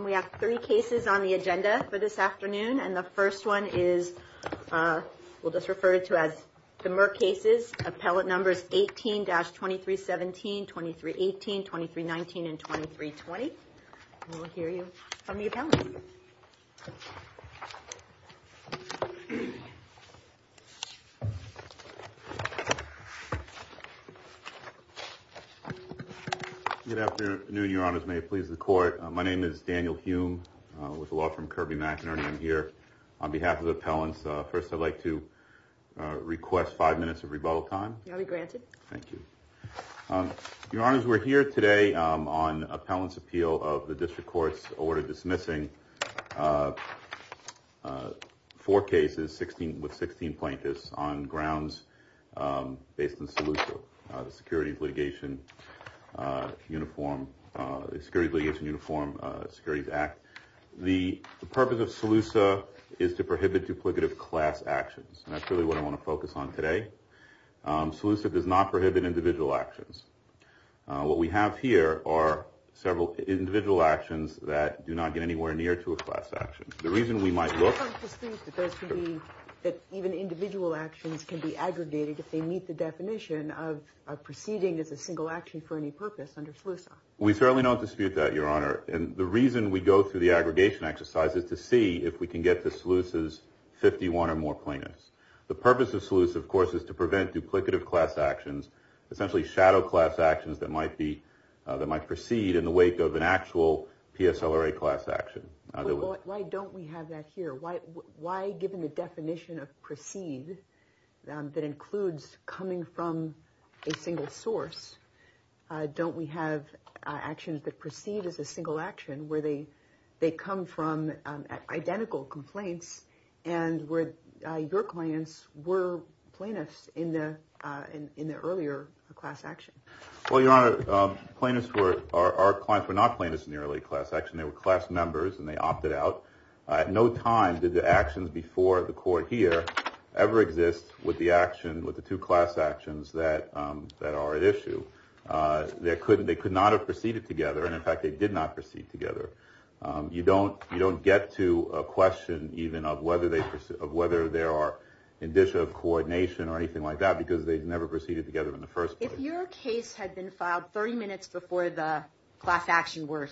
We have three cases on the agenda for this afternoon. And the first one is, we'll just refer to as the Merck cases, appellate numbers 18-2317, 2318, 2319, and 2320. We'll hear you from the appellant. Good afternoon, Your Honors. May it please the court. My name is Daniel Hume with a law firm Kirby McInerney. I'm here on behalf of the appellants. First, I'd like to request five minutes of rebuttal time. I'll be granted. Thank you. Your Honors, we're here today on appellant's appeal of the district court's order dismissing four cases, 16 with 16 plaintiffs on grounds based in Selusa, the Securities Litigation Uniform Securities Act. The purpose of Selusa is to prohibit duplicative class actions. And that's really what I want to focus on today. Selusa does not prohibit individual actions. What we have here are several individual actions that do not get anywhere near to a class action. The reason we might look at even individual actions can be aggregated if they meet the definition of proceeding as a single action for any purpose under Selusa. We certainly don't dispute that, Your Honor. And the reason we go through the aggregation exercise is to see if we can get to Selusa's 51 or more plaintiffs. The purpose of Selusa, of course, is to prevent duplicative class actions, essentially shadow class actions that might be that might proceed in the wake of an actual PSLRA class action. Why don't we have that here? Why? Why? Given the definition of proceed that includes coming from a single source, don't we have actions that proceed as a single action where they they come from identical complaints and where your clients were plaintiffs in the in the earlier class action? Well, Your Honor, plaintiffs were our clients were not plaintiffs in the early class action. They were class members and they opted out at no time. Did the actions before the court here ever exist with the action with the two class actions that that are at issue? They couldn't they could not have proceeded together. And in fact, they did not proceed together. You don't you don't get to a question even of whether they of whether there are indicia of coordination or anything like that, because they never proceeded together in the first place. If your case had been filed 30 minutes before the class action were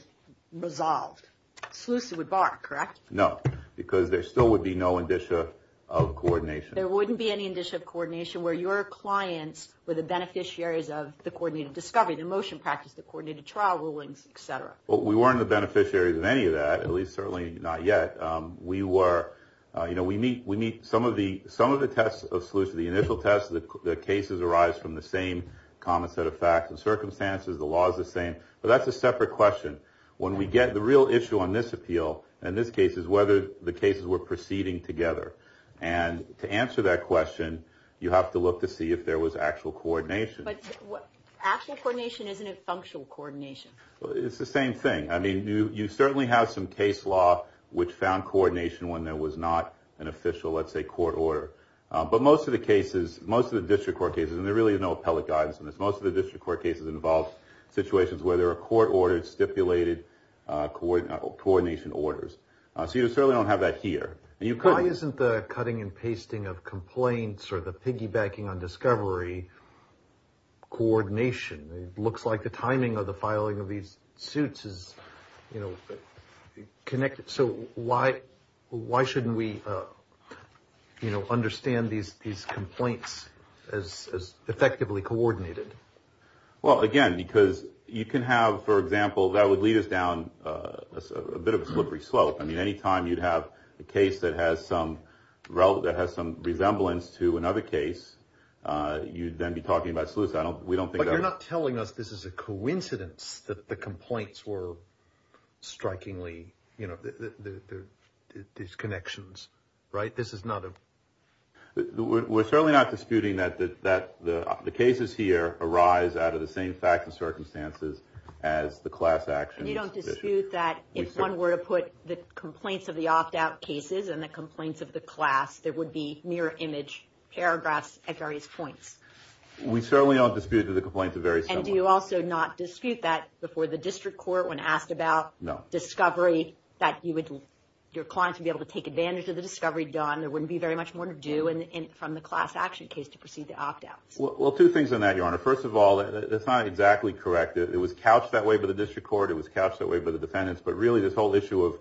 resolved, Slusi would bark, correct? No, because there still would be no indicia of coordination. There wouldn't be any indicia of coordination where your clients were the beneficiaries of the coordinated discovery, the motion practice, the coordinated trial rulings, et cetera. Well, we weren't the beneficiaries of any of that, at least certainly not yet. But we were you know, we meet we meet some of the some of the tests of Slusi, the initial test that the cases arise from the same common set of facts and circumstances. The law is the same, but that's a separate question when we get the real issue on this appeal. And this case is whether the cases were proceeding together. And to answer that question, you have to look to see if there was actual coordination. But what actual coordination isn't a functional coordination? Well, it's the same thing. I mean, you certainly have some case law which found coordination when there was not an official, let's say, court order. But most of the cases, most of the district court cases, and there really is no appellate guidance on this. Most of the district court cases involve situations where there are court orders, stipulated coordination orders. So you certainly don't have that here. Why isn't the cutting and pasting of complaints or the piggybacking on discovery coordination? It looks like the timing of the filing of these suits is, you know, connected. So why why shouldn't we, you know, understand these these complaints as effectively coordinated? Well, again, because you can have, for example, that would lead us down a bit of a slippery slope. I mean, any time you'd have a case that has some relative that has some resemblance to another case, you'd then be talking about Slusi. I don't we don't think you're not telling us this is a coincidence that the complaints were strikingly, you know, these connections. Right. This is not a we're certainly not disputing that, that the cases here arise out of the same facts and circumstances as the class action. You don't dispute that. If one were to put the complaints of the opt out cases and the complaints of the class, there would be mirror image paragraphs at various points. We certainly don't dispute that the complaints are very and do you also not dispute that before the district court when asked about no discovery that you would your clients would be able to take advantage of the discovery done. There wouldn't be very much more to do. And from the class action case to proceed to opt out. Well, two things on that, your honor. First of all, that's not exactly correct. It was couched that way by the district court. It was couched that way by the defendants. But really, this whole issue of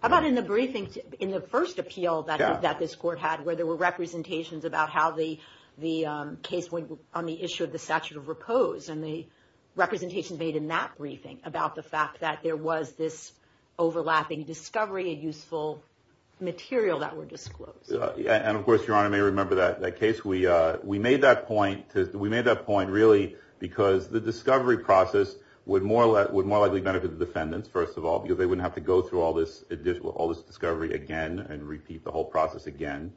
about in the briefing in the first appeal that that this court had, where there were representations about how the the case went on the issue of the statute of repose and the representation made in that briefing about the fact that there was this overlapping discovery, a useful material that were disclosed. And of course, your honor, may remember that case. We we made that point. We made that point, really, because the discovery process would more would more likely benefit the defendants, first of all, because they wouldn't have to go through all this additional all this discovery again and repeat the whole process again.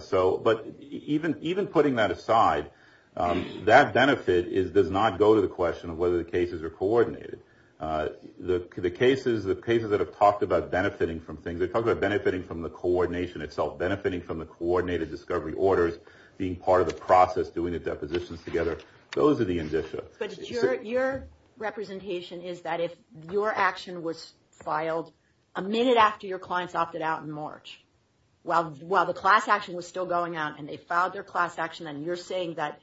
So but even even putting that aside, that benefit is does not go to the question of whether the cases are coordinated. The the cases, the cases that have talked about benefiting from things, they talk about benefiting from the coordination itself, benefiting from the coordinated discovery orders, being part of the process, doing the depositions together. Those are the indicia. But your your representation is that if your action was filed a minute after your clients opted out in March, while while the class action was still going on and they filed their class action and you're saying that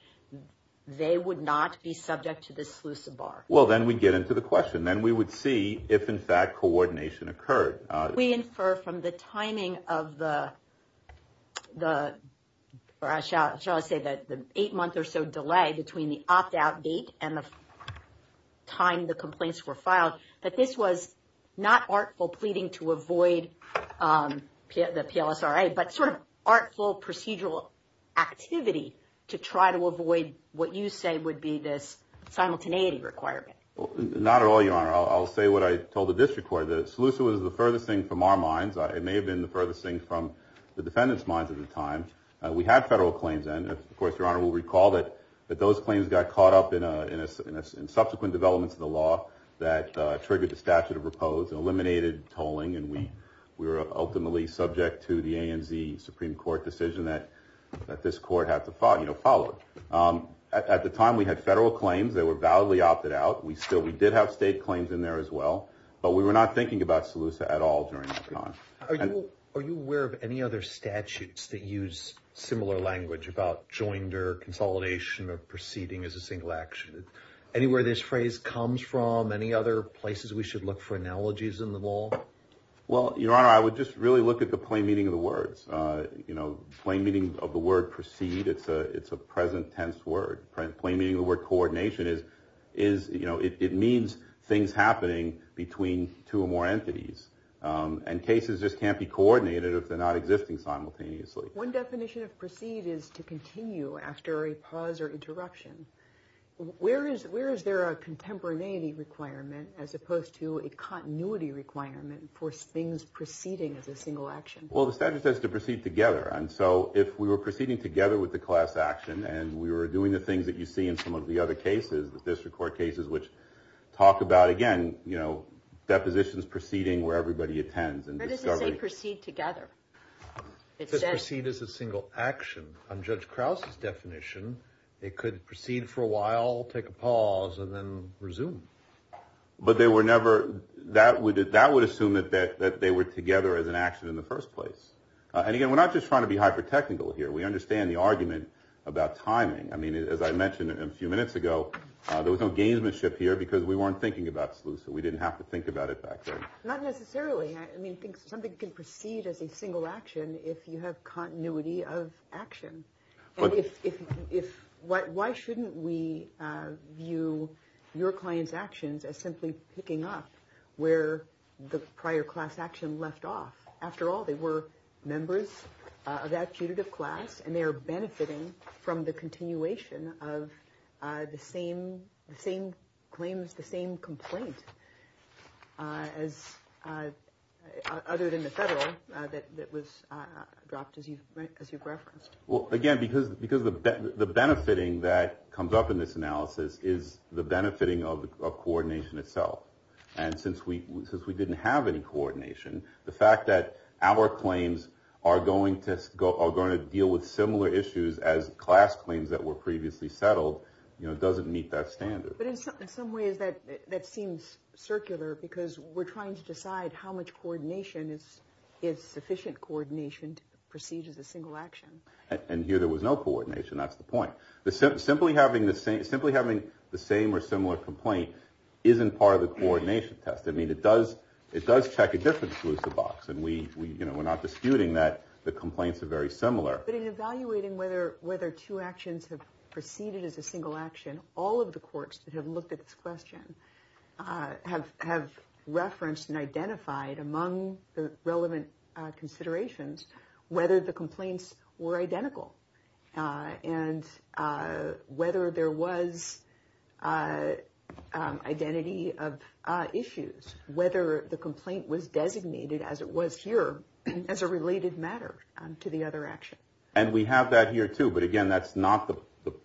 they would not be subject to this bar. Well, then we get into the question. Then we would see if, in fact, coordination occurred. We infer from the timing of the the rush out, shall I say that the eight month or so delay between the opt out date and the time the complaints were filed. But this was not artful pleading to avoid the PLSRA, but sort of artful procedural activity to try to avoid what you say would be this simultaneity requirement. Not at all, your honor. I'll say what I told the district court. The solution was the furthest thing from our minds. It may have been the furthest thing from the defendant's minds at the time. We had federal claims. And of course, your honor will recall that those claims got caught up in a in a subsequent developments of the law that triggered the statute of repose and eliminated tolling. And we were ultimately subject to the ANZ Supreme Court decision that this court had to follow. At the time, we had federal claims that were validly opted out. We still we did have state claims in there as well, but we were not thinking about Seleucia at all during that time. Are you aware of any other statutes that use similar language about joined or consolidation or proceeding as a single action? Anywhere this phrase comes from, any other places we should look for analogies in the law? Well, your honor, I would just really look at the plain meaning of the words, you know, plain meaning of the word proceed. It's a it's a present tense word. Plain meaning of the word coordination is is, you know, it means things happening between two or more entities and cases just can't be coordinated if they're not existing simultaneously. One definition of proceed is to continue after a pause or interruption. Where is where is there a contemporaneity requirement as opposed to a continuity requirement for things proceeding as a single action? Well, the statute says to proceed together. And so if we were proceeding together with the class action and we were doing the things that you see in some of the other cases, the district court cases, which talk about, again, you know, depositions proceeding where everybody attends. Proceed together, proceed as a single action on Judge Krause's definition. It could proceed for a while, take a pause and then resume. But they were never that would that would assume that that they were together as an action in the first place. And again, we're not just trying to be hyper technical here. We understand the argument about timing. I mean, as I mentioned a few minutes ago, there was no gamesmanship here because we weren't thinking about Slusa. We didn't have to think about it back then. Not necessarily. I mean, something can proceed as a single action if you have continuity of action. But if if what why shouldn't we view your client's actions as simply picking up where the prior class action left off? After all, they were members of that class and they are benefiting from the continuation of the same, the same claims, the same complaint as other than the federal that was dropped as you as you referenced. Well, again, because because of the benefiting that comes up in this analysis is the benefiting of coordination itself. And since we since we didn't have any coordination, the fact that our claims are going to go are going to deal with similar issues as class claims that were previously settled, you know, doesn't meet that standard. But in some ways that that seems circular because we're trying to decide how much coordination is is sufficient coordination to proceed as a single action. And here there was no coordination. That's the point. Simply having the same simply having the same or similar complaint isn't part of the coordination test. I mean, it does it does check a different Slusa box. And we, you know, we're not disputing that the complaints are very similar. But in evaluating whether whether two actions have proceeded as a single action, all of the courts that have looked at this question have have referenced and identified among the relevant considerations whether the complaints were identical and whether there was identity of issues, whether the complaint was designated as it was here as a related matter to the other action. And we have that here, too. But again, that's not the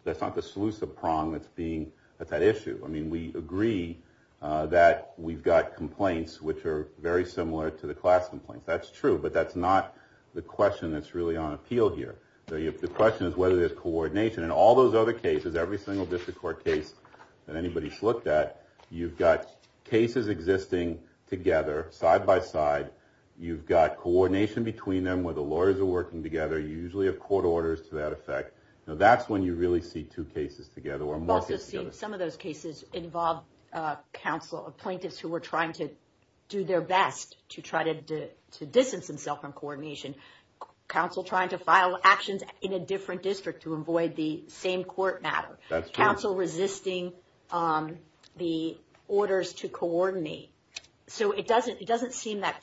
that's not the Slusa prong that's being at that issue. I mean, we agree that we've got complaints which are very similar to the class complaints. That's true, but that's not the question that's really on appeal here. So if the question is whether there's coordination and all those other cases, every single district court case that anybody's looked at, you've got cases existing together side by side. You've got coordination between them where the lawyers are working together. You usually have court orders to that effect. Now, that's when you really see two cases together or more. Some of those cases involve counsel of plaintiffs who were trying to do their best to try to distance himself from coordination. So it doesn't it doesn't seem that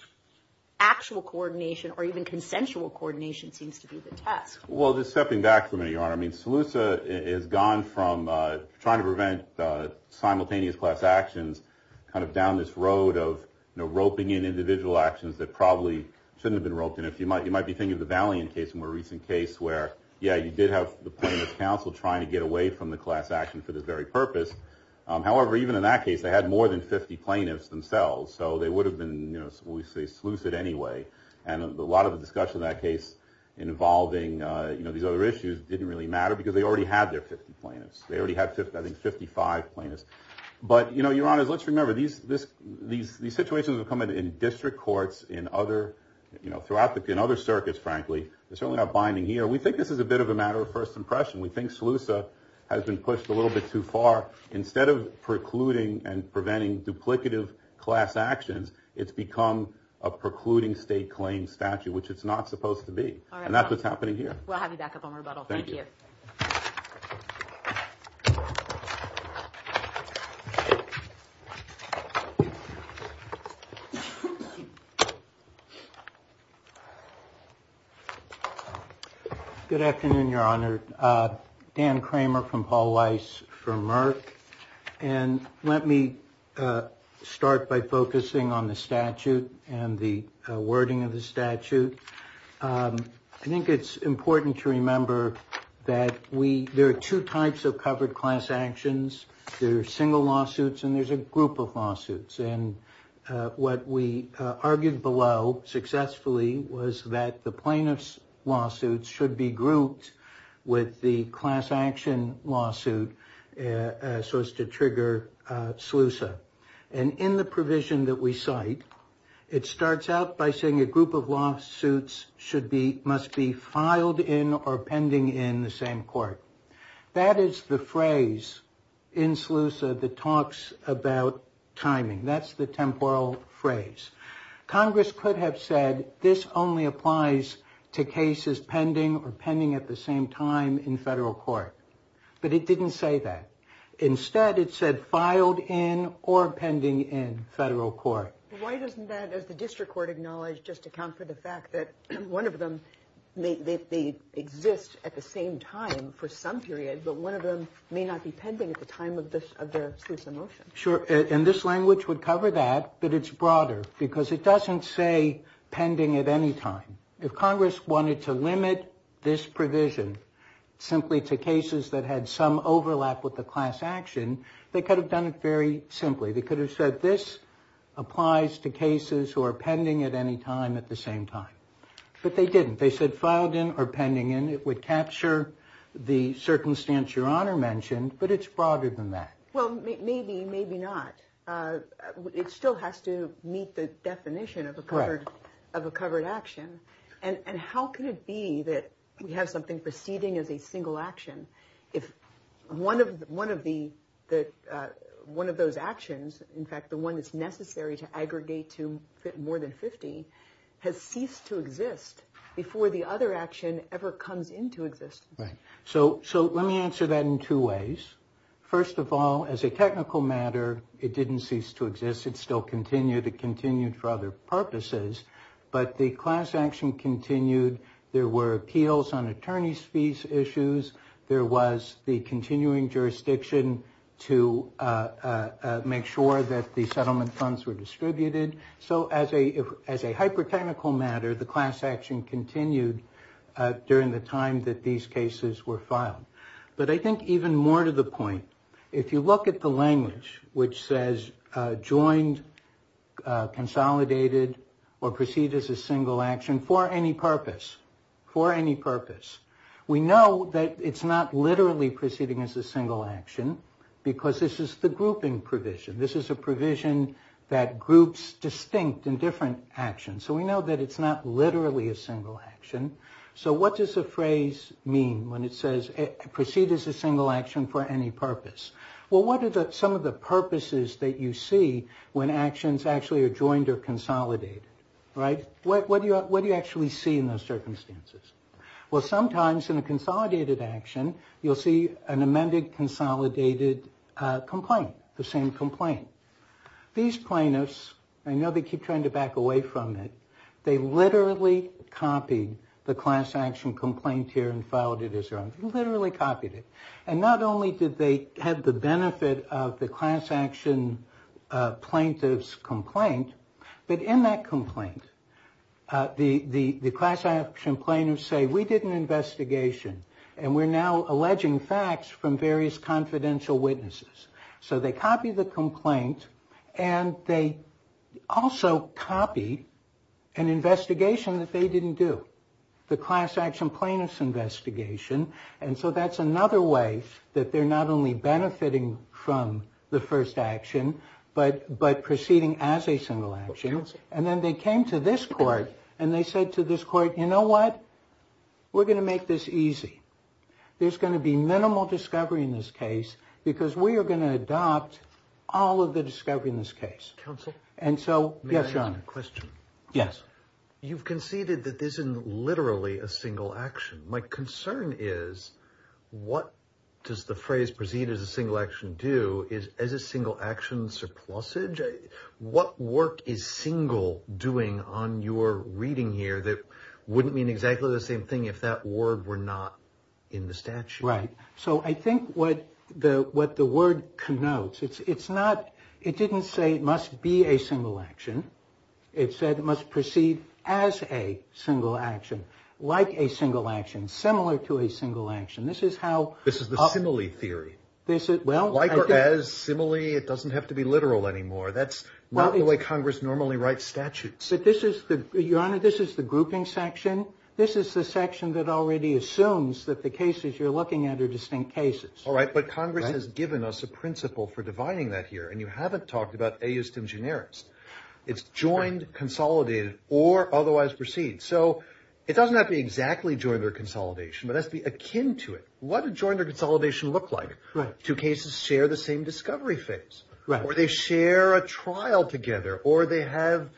actual coordination or even consensual coordination seems to be the task. Well, just stepping back for me, your honor. I mean, Slusa is gone from trying to prevent simultaneous class actions kind of down this road of roping in individual actions that probably shouldn't have been roped in. You might be thinking of the Valiant case, a more recent case where, yeah, you did have the plaintiff's counsel trying to get away from the class action for this very purpose. However, even in that case, they had more than 50 plaintiffs themselves. So they would have been, we say, Slusa anyway. And a lot of the discussion in that case involving these other issues didn't really matter because they already had their 50 plaintiffs. They already had 55 plaintiffs. But, you know, your honors, let's remember these situations have come in in district courts, in other, you know, throughout the in other circuits, frankly, they're certainly not binding here. We think this is a bit of a matter of first impression. We think Slusa has been pushed a little bit too far. Instead of precluding and preventing duplicative class actions, it's become a precluding state claim statute, which it's not supposed to be. And that's what's happening here. We'll have you back up on rebuttal. Thank you. Good afternoon, Your Honor. Dan Kramer from Paul Weiss for Merck. And let me start by focusing on the statute and the wording of the statute. I think it's important to remember that we there are two types of covered class actions. There are single lawsuits and there's a group of lawsuits. And what we argued below successfully was that the plaintiff's lawsuits should be grouped with the class action lawsuit. So as to trigger Slusa. And in the provision that we cite, it starts out by saying a group of lawsuits should be, must be filed in or pending in the same court. That is the phrase in Slusa that talks about timing. That's the temporal phrase. Congress could have said this only applies to cases pending or pending at the same time in federal court. But it didn't say that. Instead, it said filed in or pending in federal court. Why doesn't that, as the district court acknowledged, just account for the fact that one of them may exist at the same time for some period, but one of them may not be pending at the time of the Slusa motion? Sure. And this language would cover that, but it's broader because it doesn't say pending at any time. If Congress wanted to limit this provision simply to cases that had some overlap with the class action, they could have done it very simply. They could have said this applies to cases who are pending at any time at the same time. But they didn't. They said filed in or pending in. It would capture the circumstance Your Honor mentioned, but it's broader than that. Well, maybe, maybe not. It still has to meet the definition of a covered action. And how can it be that we have something proceeding as a single action if one of those actions, in fact, the one that's necessary to aggregate to more than 50, has ceased to exist before the other action ever comes into existence? Right. So let me answer that in two ways. First of all, as a technical matter, it didn't cease to exist. It still continued. It continued for other purposes. But the class action continued. There were appeals on attorney's fees issues. There was the continuing jurisdiction to make sure that the settlement funds were distributed. So as a hyper technical matter, the class action continued during the time that these cases were filed. But I think even more to the point, if you look at the language which says joined, consolidated, or proceed as a single action for any purpose, for any purpose, we know that it's not literally proceeding as a single action because this is the grouping provision. This is a provision that groups distinct and different actions. So we know that it's not literally a single action. So what does the phrase mean when it says proceed as a single action for any purpose? Well, what are some of the purposes that you see when actions actually are joined or consolidated? Right? What do you actually see in those circumstances? Well, sometimes in a consolidated action, you'll see an amended consolidated complaint, the same complaint. These plaintiffs, I know they keep trying to back away from it, they literally copied the class action complaint here and filed it as their own. They literally copied it. And not only did they have the benefit of the class action plaintiff's complaint, but in that complaint, the class action plaintiffs say we did an investigation and we're now alleging facts from various confidential witnesses. So they copied the complaint and they also copied an investigation that they didn't do, the class action plaintiff's investigation. And so that's another way that they're not only benefiting from the first action, but proceeding as a single action. And then they came to this court and they said to this court, you know what? We're going to make this easy. There's going to be minimal discovery in this case because we are going to adopt all of the discovery in this case. And so, yes, John. Yes. You've conceded that this isn't literally a single action. My concern is what does the phrase proceed as a single action do is as a single action surplusage. What work is single doing on your reading here that wouldn't mean exactly the same thing if that word were not in the statute? Right. So I think what the what the word connotes, it's not it didn't say it must be a single action. It said it must proceed as a single action, like a single action, similar to a single action. This is how this is the simile theory. Well, like or as simile, it doesn't have to be literal anymore. That's not the way Congress normally writes statutes. But this is the your honor. This is the grouping section. This is the section that already assumes that the cases you're looking at are distinct cases. All right. But Congress has given us a principle for dividing that here. And you haven't talked about a used in generics. It's joined, consolidated or otherwise proceed. So it doesn't have to be exactly joint or consolidation, but that's the akin to it. What a joint or consolidation look like two cases share the same discovery phase where they share a trial together or they have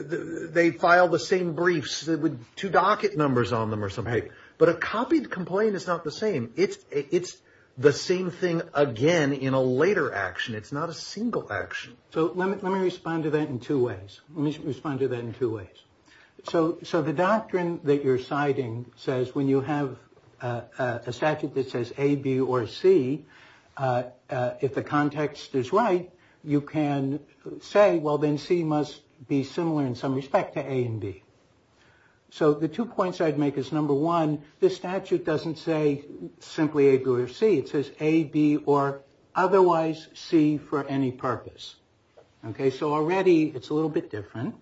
they file the same briefs with two docket numbers on them or something. But a copied complaint is not the same. It's it's the same thing again in a later action. It's not a single action. So let me respond to that in two ways. Let me respond to that in two ways. So so the doctrine that you're citing says when you have a statute that says A, B or C, if the context is right, you can say, well, then C must be similar in some respect to A and B. So the two points I'd make is number one, this statute doesn't say simply A, B or C. It says A, B or otherwise C for any purpose. Okay. So already it's a little bit different.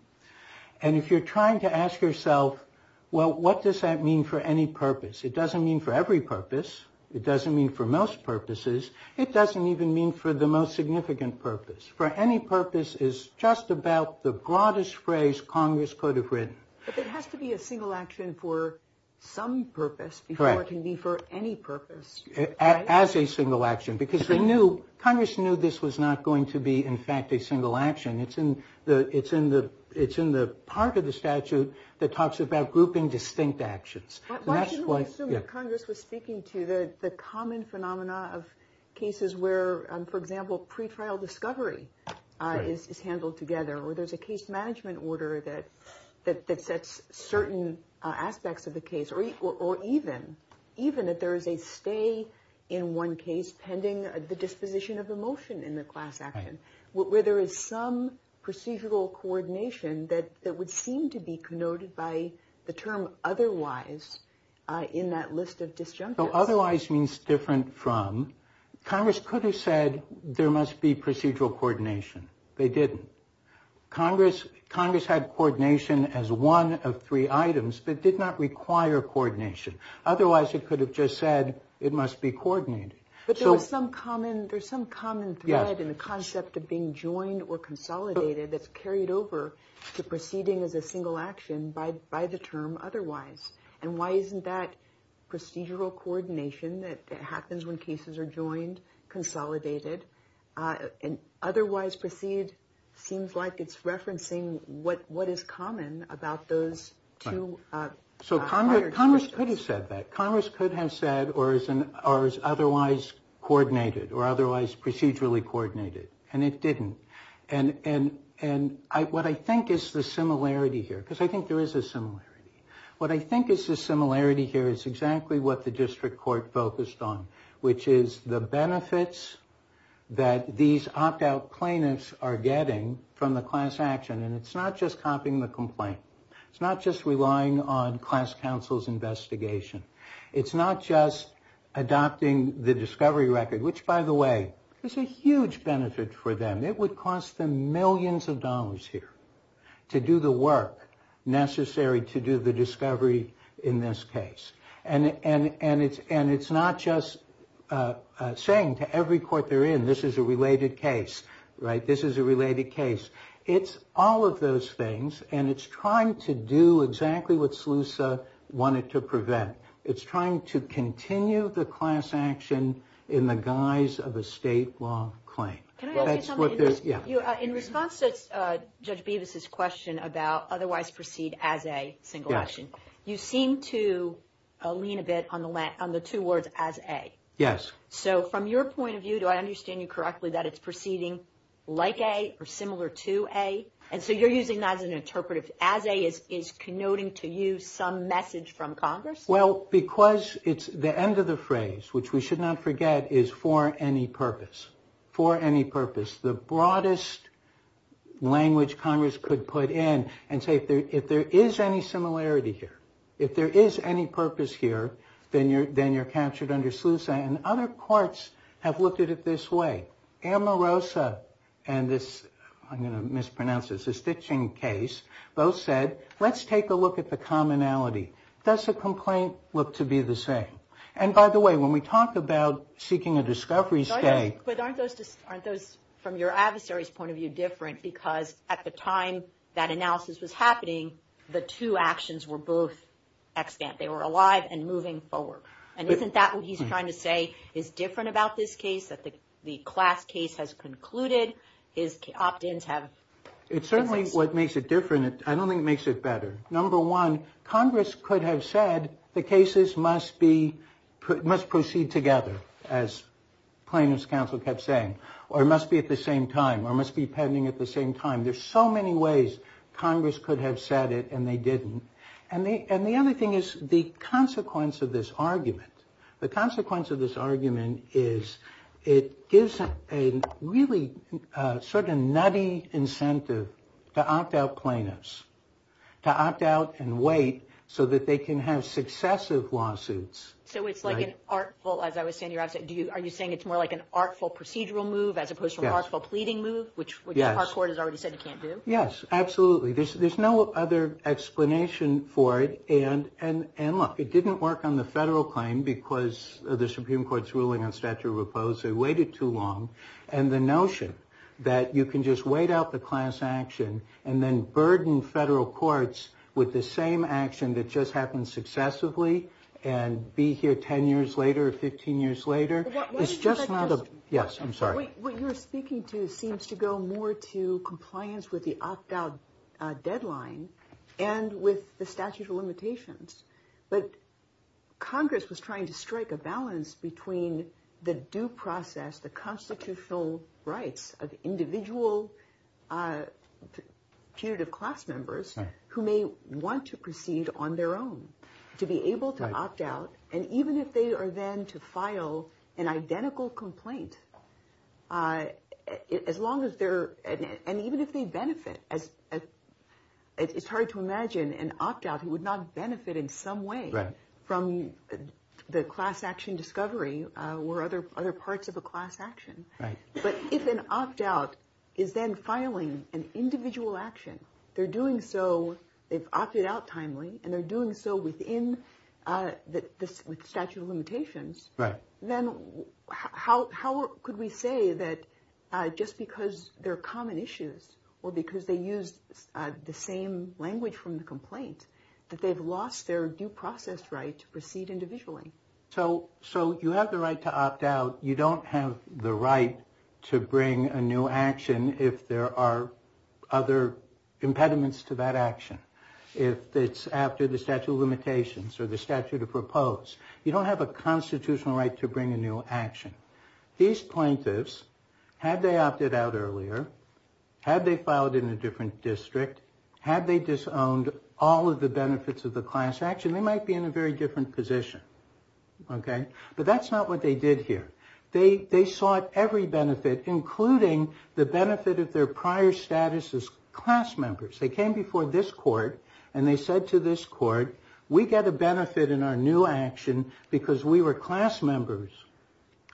And if you're trying to ask yourself, well, what does that mean for any purpose? It doesn't mean for every purpose. It doesn't mean for most purposes. It doesn't even mean for the most significant purpose. For any purpose is just about the broadest phrase Congress could have written. But it has to be a single action for some purpose before it can be for any purpose. As a single action because they knew Congress knew this was not going to be in fact a single action. It's in the it's in the it's in the part of the statute that talks about grouping distinct actions. Congress was speaking to the common phenomena of cases where, for example, pretrial discovery is handled together or there's a case management order that that sets certain aspects of the case or or even even if there is a stay in one case pending the disposition of a motion in the class action where there is some procedural coordination that that would seem to be connoted by the term otherwise. In that list of disjunct otherwise means different from Congress could have said there must be procedural coordination. They didn't Congress. Congress had coordination as one of three items that did not require coordination. Otherwise, it could have just said it must be coordinated. There's some common thread in the concept of being joined or consolidated that's carried over to proceeding as a single action by by the term otherwise. And why isn't that procedural coordination that happens when cases are joined, consolidated and otherwise proceed? Seems like it's referencing what what is common about those two. So Congress Congress could have said that Congress could have said or is an otherwise coordinated or otherwise procedurally coordinated. And it didn't. And and and what I think is the similarity here, because I think there is a similarity. What I think is the similarity here is exactly what the district court focused on, which is the benefits that these opt out plaintiffs are getting from the class action. And it's not just copying the complaint. It's not just relying on class counsel's investigation. It's not just adopting the discovery record, which, by the way, is a huge benefit for them. It would cost them millions of dollars here to do the work necessary to do the discovery in this case. And and and it's and it's not just saying to every court they're in, this is a related case. Right. This is a related case. It's all of those things. And it's trying to do exactly what SLUSA wanted to prevent. It's trying to continue the class action in the guise of a state law claim. Can I ask you something? In response to Judge Bevis's question about otherwise proceed as a single action. You seem to lean a bit on the on the two words as a. Yes. So from your point of view, do I understand you correctly that it's proceeding like a or similar to a. And so you're using that as an interpretive as a is is connoting to you some message from Congress? Well, because it's the end of the phrase, which we should not forget, is for any purpose, for any purpose. The broadest language Congress could put in and say if there if there is any similarity here, if there is any purpose here, then you're then you're captured under SLUSA and other courts have looked at it this way. Amorosa and this I'm going to mispronounce this, a stitching case. Both said, let's take a look at the commonality. Does a complaint look to be the same? And by the way, when we talk about seeking a discovery state. But aren't those aren't those from your adversaries point of view different? Because at the time that analysis was happening, the two actions were both. They were alive and moving forward. And isn't that what he's trying to say is different about this case? That the class case has concluded his opt ins have. It's certainly what makes it different. I don't think it makes it better. Number one, Congress could have said the cases must be must proceed together. As plaintiffs counsel kept saying, or it must be at the same time or must be pending at the same time. There's so many ways Congress could have said it and they didn't. And the other thing is the consequence of this argument. The consequence of this argument is it gives a really sort of nutty incentive to opt out plaintiffs. To opt out and wait so that they can have successive lawsuits. So it's like an artful, as I was saying, are you saying it's more like an artful procedural move, as opposed to an artful pleading move, which our court has already said you can't do? Yes, absolutely. There's no other explanation for it. And look, it didn't work on the federal claim because of the Supreme Court's ruling on statute of opposes. They waited too long. And the notion that you can just wait out the class action and then burden federal courts with the same action that just happened successively and be here 10 years later, 15 years later. Yes, I'm sorry. What you're speaking to seems to go more to compliance with the opt out deadline and with the statute of limitations. But Congress was trying to strike a balance between the due process, the constitutional rights of individual punitive class members who may want to proceed on their own to be able to opt out. And even if they are then to file an identical complaint, as long as they're and even if they benefit, it's hard to imagine an opt out who would not benefit in some way from the class action discovery or other parts of a class action. But if an opt out is then filing an individual action, they're doing so. They've opted out timely and they're doing so within the statute of limitations. Then how could we say that just because they're common issues or because they use the same language from the complaint, that they've lost their due process right to proceed individually? So you have the right to opt out. You don't have the right to bring a new action if there are other impediments to that action. If it's after the statute of limitations or the statute of proposed, you don't have a constitutional right to bring a new action. These plaintiffs, had they opted out earlier, had they filed in a different district, had they disowned all of the benefits of the class action, they might be in a very different position. But that's not what they did here. They sought every benefit, including the benefit of their prior status as class members. They came before this court and they said to this court, we get a benefit in our new action because we were class members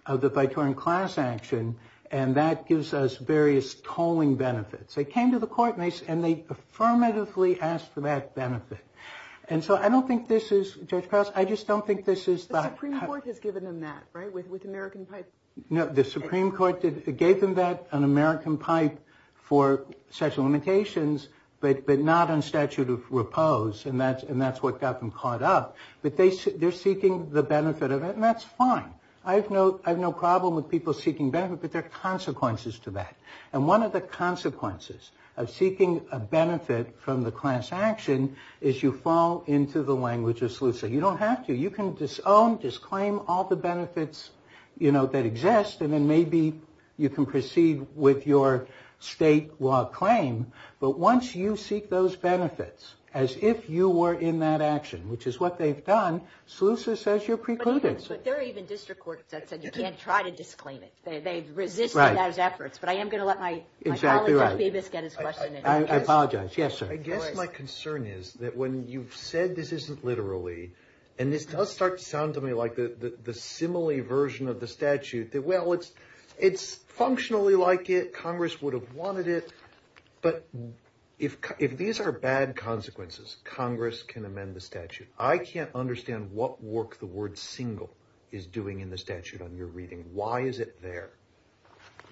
of the VITORIN class action, and that gives us various tolling benefits. They came to the court and they affirmatively asked for that benefit. And so I don't think this is, Judge Carls, I just don't think this is. The Supreme Court has given them that, right, with American Pipe. No, the Supreme Court gave them that on American Pipe for sexual limitations, but not on statute of proposed, and that's what got them caught up. But they're seeking the benefit of it, and that's fine. I have no problem with people seeking benefit, but there are consequences to that. And one of the consequences of seeking a benefit from the class action is you fall into the language of SLUSA. You don't have to. You can disown, disclaim all the benefits, you know, that exist, and then maybe you can proceed with your state law claim. But once you seek those benefits as if you were in that action, which is what they've done, SLUSA says you're precluded. But there are even district courts that said you can't try to disclaim it. They've resisted those efforts, but I am going to let my colleague get his question in. I apologize. Yes, sir. I guess my concern is that when you've said this isn't literally, and this does start to sound to me like the simile version of the statute, that, well, it's functionally like it, Congress would have wanted it, but if these are bad consequences, Congress can amend the statute. I can't understand what work the word single is doing in the statute on your reading. Why is it there?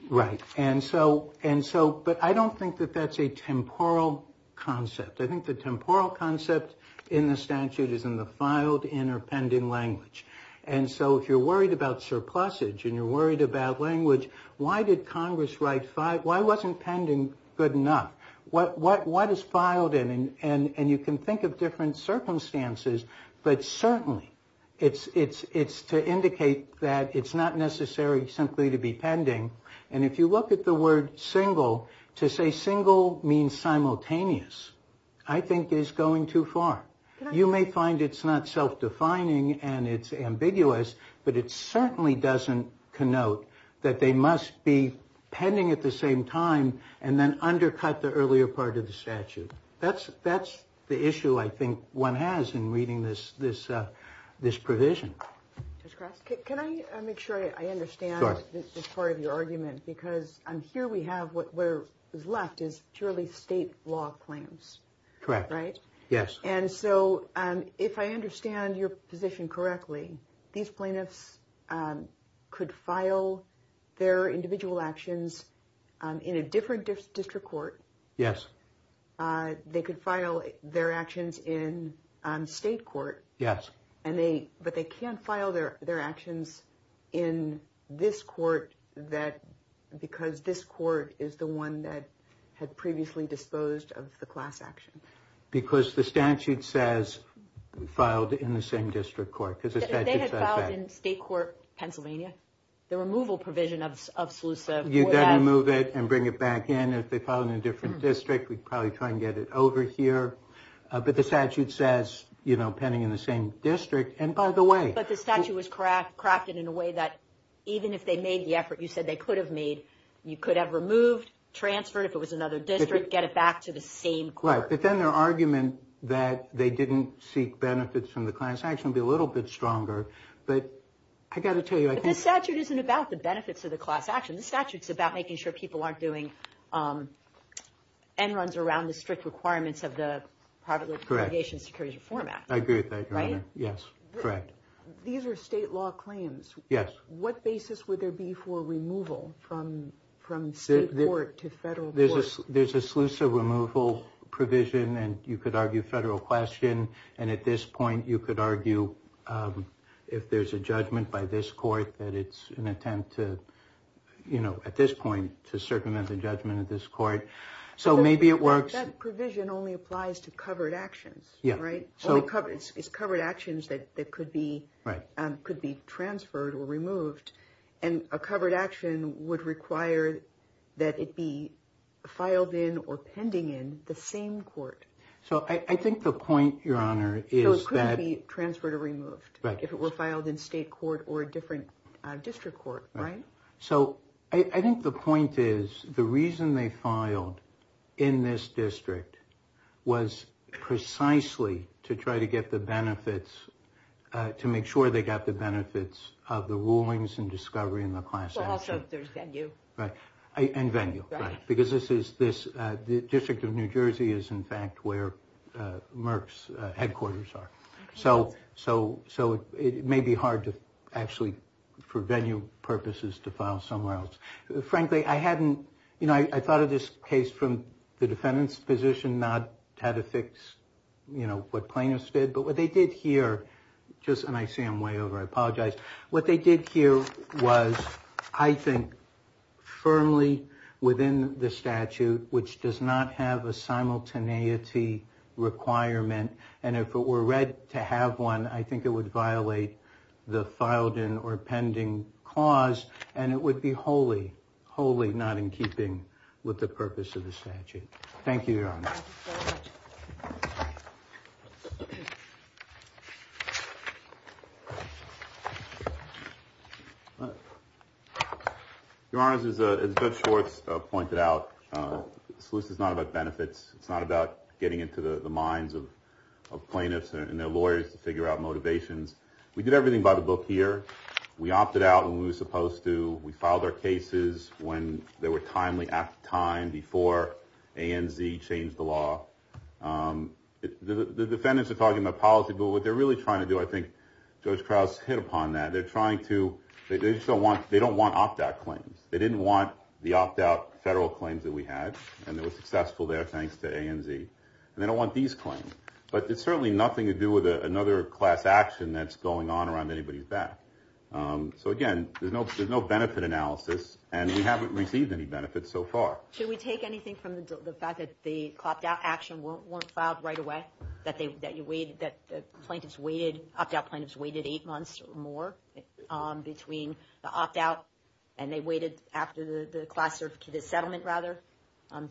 Right. But I don't think that that's a temporal concept. I think the temporal concept in the statute is in the filed, in or pending language. And so if you're worried about surplusage and you're worried about language, why did Congress write five? Why wasn't pending good enough? What is filed? And you can think of different circumstances, but certainly it's to indicate that it's not necessary simply to be pending. And if you look at the word single, to say single means simultaneous, I think is going too far. You may find it's not self-defining and it's ambiguous, but it certainly doesn't connote that they must be pending at the same time and then undercut the earlier part of the statute. That's the issue I think one has in reading this provision. Can I make sure I understand this part of your argument? Because here we have what is left is purely state law claims. Correct. Right? Yes. And so if I understand your position correctly, these plaintiffs could file their individual actions in a different district court. Yes. They could file their actions in state court. Yes. But they can't file their actions in this court because this court is the one that had previously disposed of the class action. Because the statute says filed in the same district court. They had filed in state court Pennsylvania. The removal provision of SLUSA. You've got to remove it and bring it back in. If they filed in a different district, we'd probably try and get it over here. But the statute says pending in the same district. And by the way. But the statute was crafted in a way that even if they made the effort, you said they could have made, you could have removed, transferred, if it was another district, get it back to the same court. But then their argument that they didn't seek benefits from the class action would be a little bit stronger. But I've got to tell you. But the statute isn't about the benefits of the class action. The statute's about making sure people aren't doing end runs around the strict requirements of the private litigation security reform act. I agree with that, Your Honor. Yes. Correct. These are state law claims. Yes. What basis would there be for removal from state court to federal court? There's a SLUSA removal provision. And you could argue federal question. And at this point, you could argue if there's a judgment by this court that it's an attempt to, you know, at this point, to circumvent the judgment of this court. So maybe it works. That provision only applies to covered actions. Yeah. Right? It's covered actions that could be transferred or removed. And a covered action would require that it be filed in or pending in the same court. So I think the point, Your Honor, is that. So it couldn't be transferred or removed. Right. If it were filed in state court or a different district court. Right. So I think the point is the reason they filed in this district was precisely to try to get the benefits, to make sure they got the benefits of the rulings and discovery in the class action. Also, there's venue. Right. And venue. Right. Because this is this district of New Jersey is, in fact, where Merck's headquarters are. So it may be hard to actually, for venue purposes, to file somewhere else. Frankly, I hadn't, you know, I thought of this case from the defendant's position, not how to fix, you know, what plaintiffs did. But what they did here, just, and I see I'm way over. I apologize. What they did here was, I think, firmly within the statute, which does not have a simultaneity requirement. And if it were read to have one, I think it would violate the filed in or pending cause, and it would be wholly, wholly not in keeping with the purpose of the statute. Thank you, Your Honor. Your Honors, as Judge Schwartz pointed out, the solution is not about benefits. It's not about getting into the minds of plaintiffs and their lawyers to figure out motivations. We did everything by the book here. We opted out when we were supposed to. We filed our cases when they were timely, at the time, before ANZ changed the law. The defendants are talking about policy, but what they're really trying to do, I think Judge Krause hit upon that. They're trying to, they just don't want, they don't want opt-out claims. They didn't want the opt-out federal claims that we had, and they were successful there thanks to ANZ, and they don't want these claims. But it's certainly nothing to do with another class action that's going on around anybody's back. So, again, there's no benefit analysis, and we haven't received any benefits so far. Should we take anything from the fact that the opt-out action weren't filed right away, that the plaintiffs waited, opt-out plaintiffs waited eight months or more between the opt-out and they waited after the class certificate settlement, rather?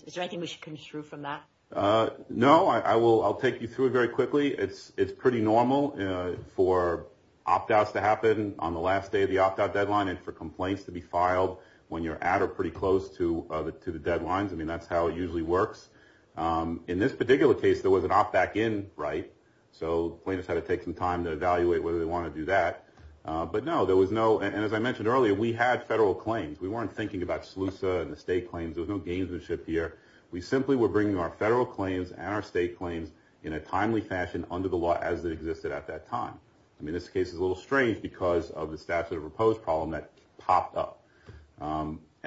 Is there anything we should construe from that? No. I'll take you through it very quickly. It's pretty normal for opt-outs to happen on the last day of the opt-out deadline and for complaints to be filed when you're at or pretty close to the deadlines. I mean, that's how it usually works. In this particular case, there was an opt-back in, right, so plaintiffs had to take some time to evaluate whether they wanted to do that. But, no, there was no, and as I mentioned earlier, we had federal claims. We weren't thinking about SLUSA and the state claims. There was no gamesmanship here. We simply were bringing our federal claims and our state claims in a timely fashion under the law as it existed at that time. I mean, this case is a little strange because of the statute of repose problem that popped up.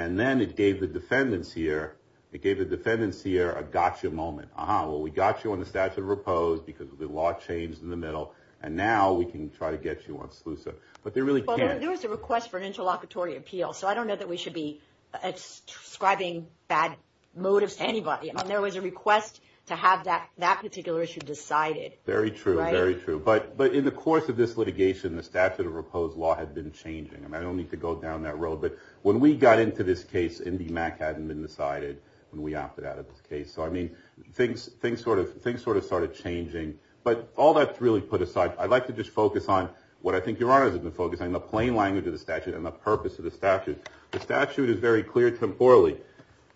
And then it gave the defendants here a gotcha moment. Aha, well, we got you on the statute of repose because the law changed in the middle, and now we can try to get you on SLUSA, but they really can't. Well, there was a request for an interlocutory appeal, so I don't know that we should be ascribing bad motives to anybody. I mean, there was a request to have that particular issue decided. Very true, very true. But in the course of this litigation, the statute of repose law had been changing. I mean, I don't need to go down that road, but when we got into this case, MDMAC hadn't been decided when we opted out of this case. So, I mean, things sort of started changing. But all that's really put aside. I'd like to just focus on what I think Your Honor has been focusing on, the plain language of the statute and the purpose of the statute. The statute is very clear temporally.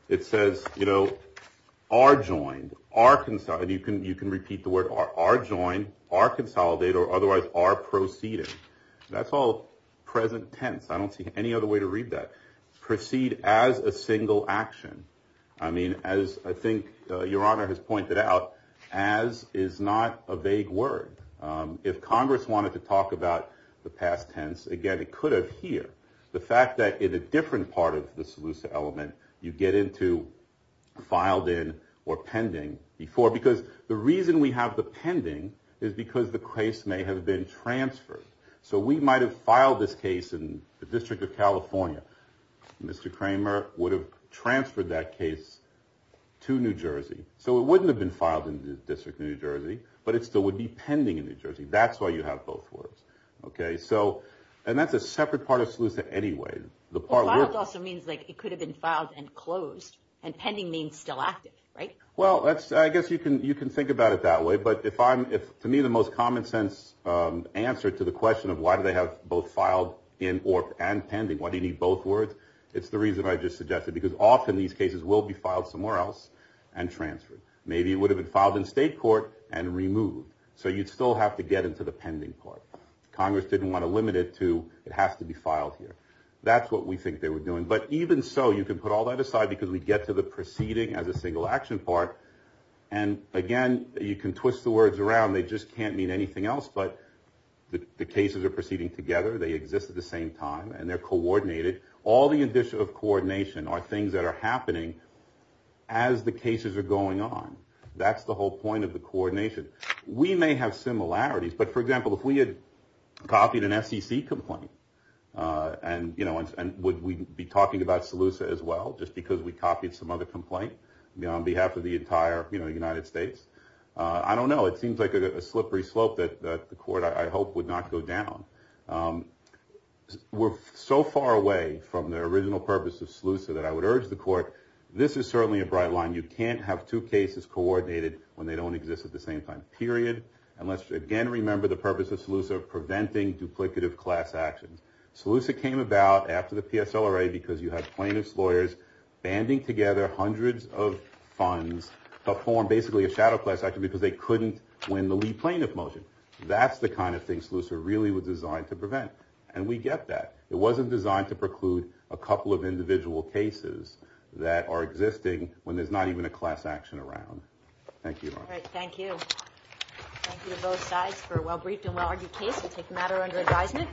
It says, you know, are joined, are consolidated. You can repeat the word are joined, are consolidated, or otherwise are proceeded. That's all present tense. I don't see any other way to read that. Proceed as a single action. I mean, as I think Your Honor has pointed out, as is not a vague word. If Congress wanted to talk about the past tense, again, it could have here. The fact that in a different part of the Seleucia element, you get into filed in or pending before. Because the reason we have the pending is because the case may have been transferred. So we might have filed this case in the District of California. Mr. Kramer would have transferred that case to New Jersey. So it wouldn't have been filed in the District of New Jersey, but it still would be pending in New Jersey. That's why you have both words. And that's a separate part of Seleucia anyway. Filed also means it could have been filed and closed. And pending means still active, right? Well, I guess you can think about it that way. But to me, the most common sense answer to the question of why do they have both filed and pending, why do you need both words, it's the reason I just suggested. Because often these cases will be filed somewhere else and transferred. Maybe it would have been filed in state court and removed. So you'd still have to get into the pending part. Congress didn't want to limit it to it has to be filed here. That's what we think they were doing. But even so, you can put all that aside because we get to the proceeding as a single action part. And, again, you can twist the words around. They just can't mean anything else, but the cases are proceeding together. They exist at the same time. And they're coordinated. All the addition of coordination are things that are happening as the cases are going on. That's the whole point of the coordination. We may have similarities. But, for example, if we had copied an SEC complaint, and would we be talking about Seleucia as well, just because we copied some other complaint on behalf of the entire United States? I don't know. It seems like a slippery slope that the court, I hope, would not go down. We're so far away from the original purpose of Seleucia that I would urge the court, this is certainly a bright line. You can't have two cases coordinated when they don't exist at the same time. Period. And let's, again, remember the purpose of Seleucia of preventing duplicative class actions. Seleucia came about after the PSLRA because you had plaintiff's lawyers banding together hundreds of funds to form basically a shadow class action because they couldn't win the lead plaintiff motion. That's the kind of thing Seleucia really was designed to prevent. And we get that. It wasn't designed to preclude a couple of individual cases that are existing when there's not even a class action around. Thank you. All right, thank you. Thank you to both sides for a well-briefed and well-argued case. We'll take a matter under advisement.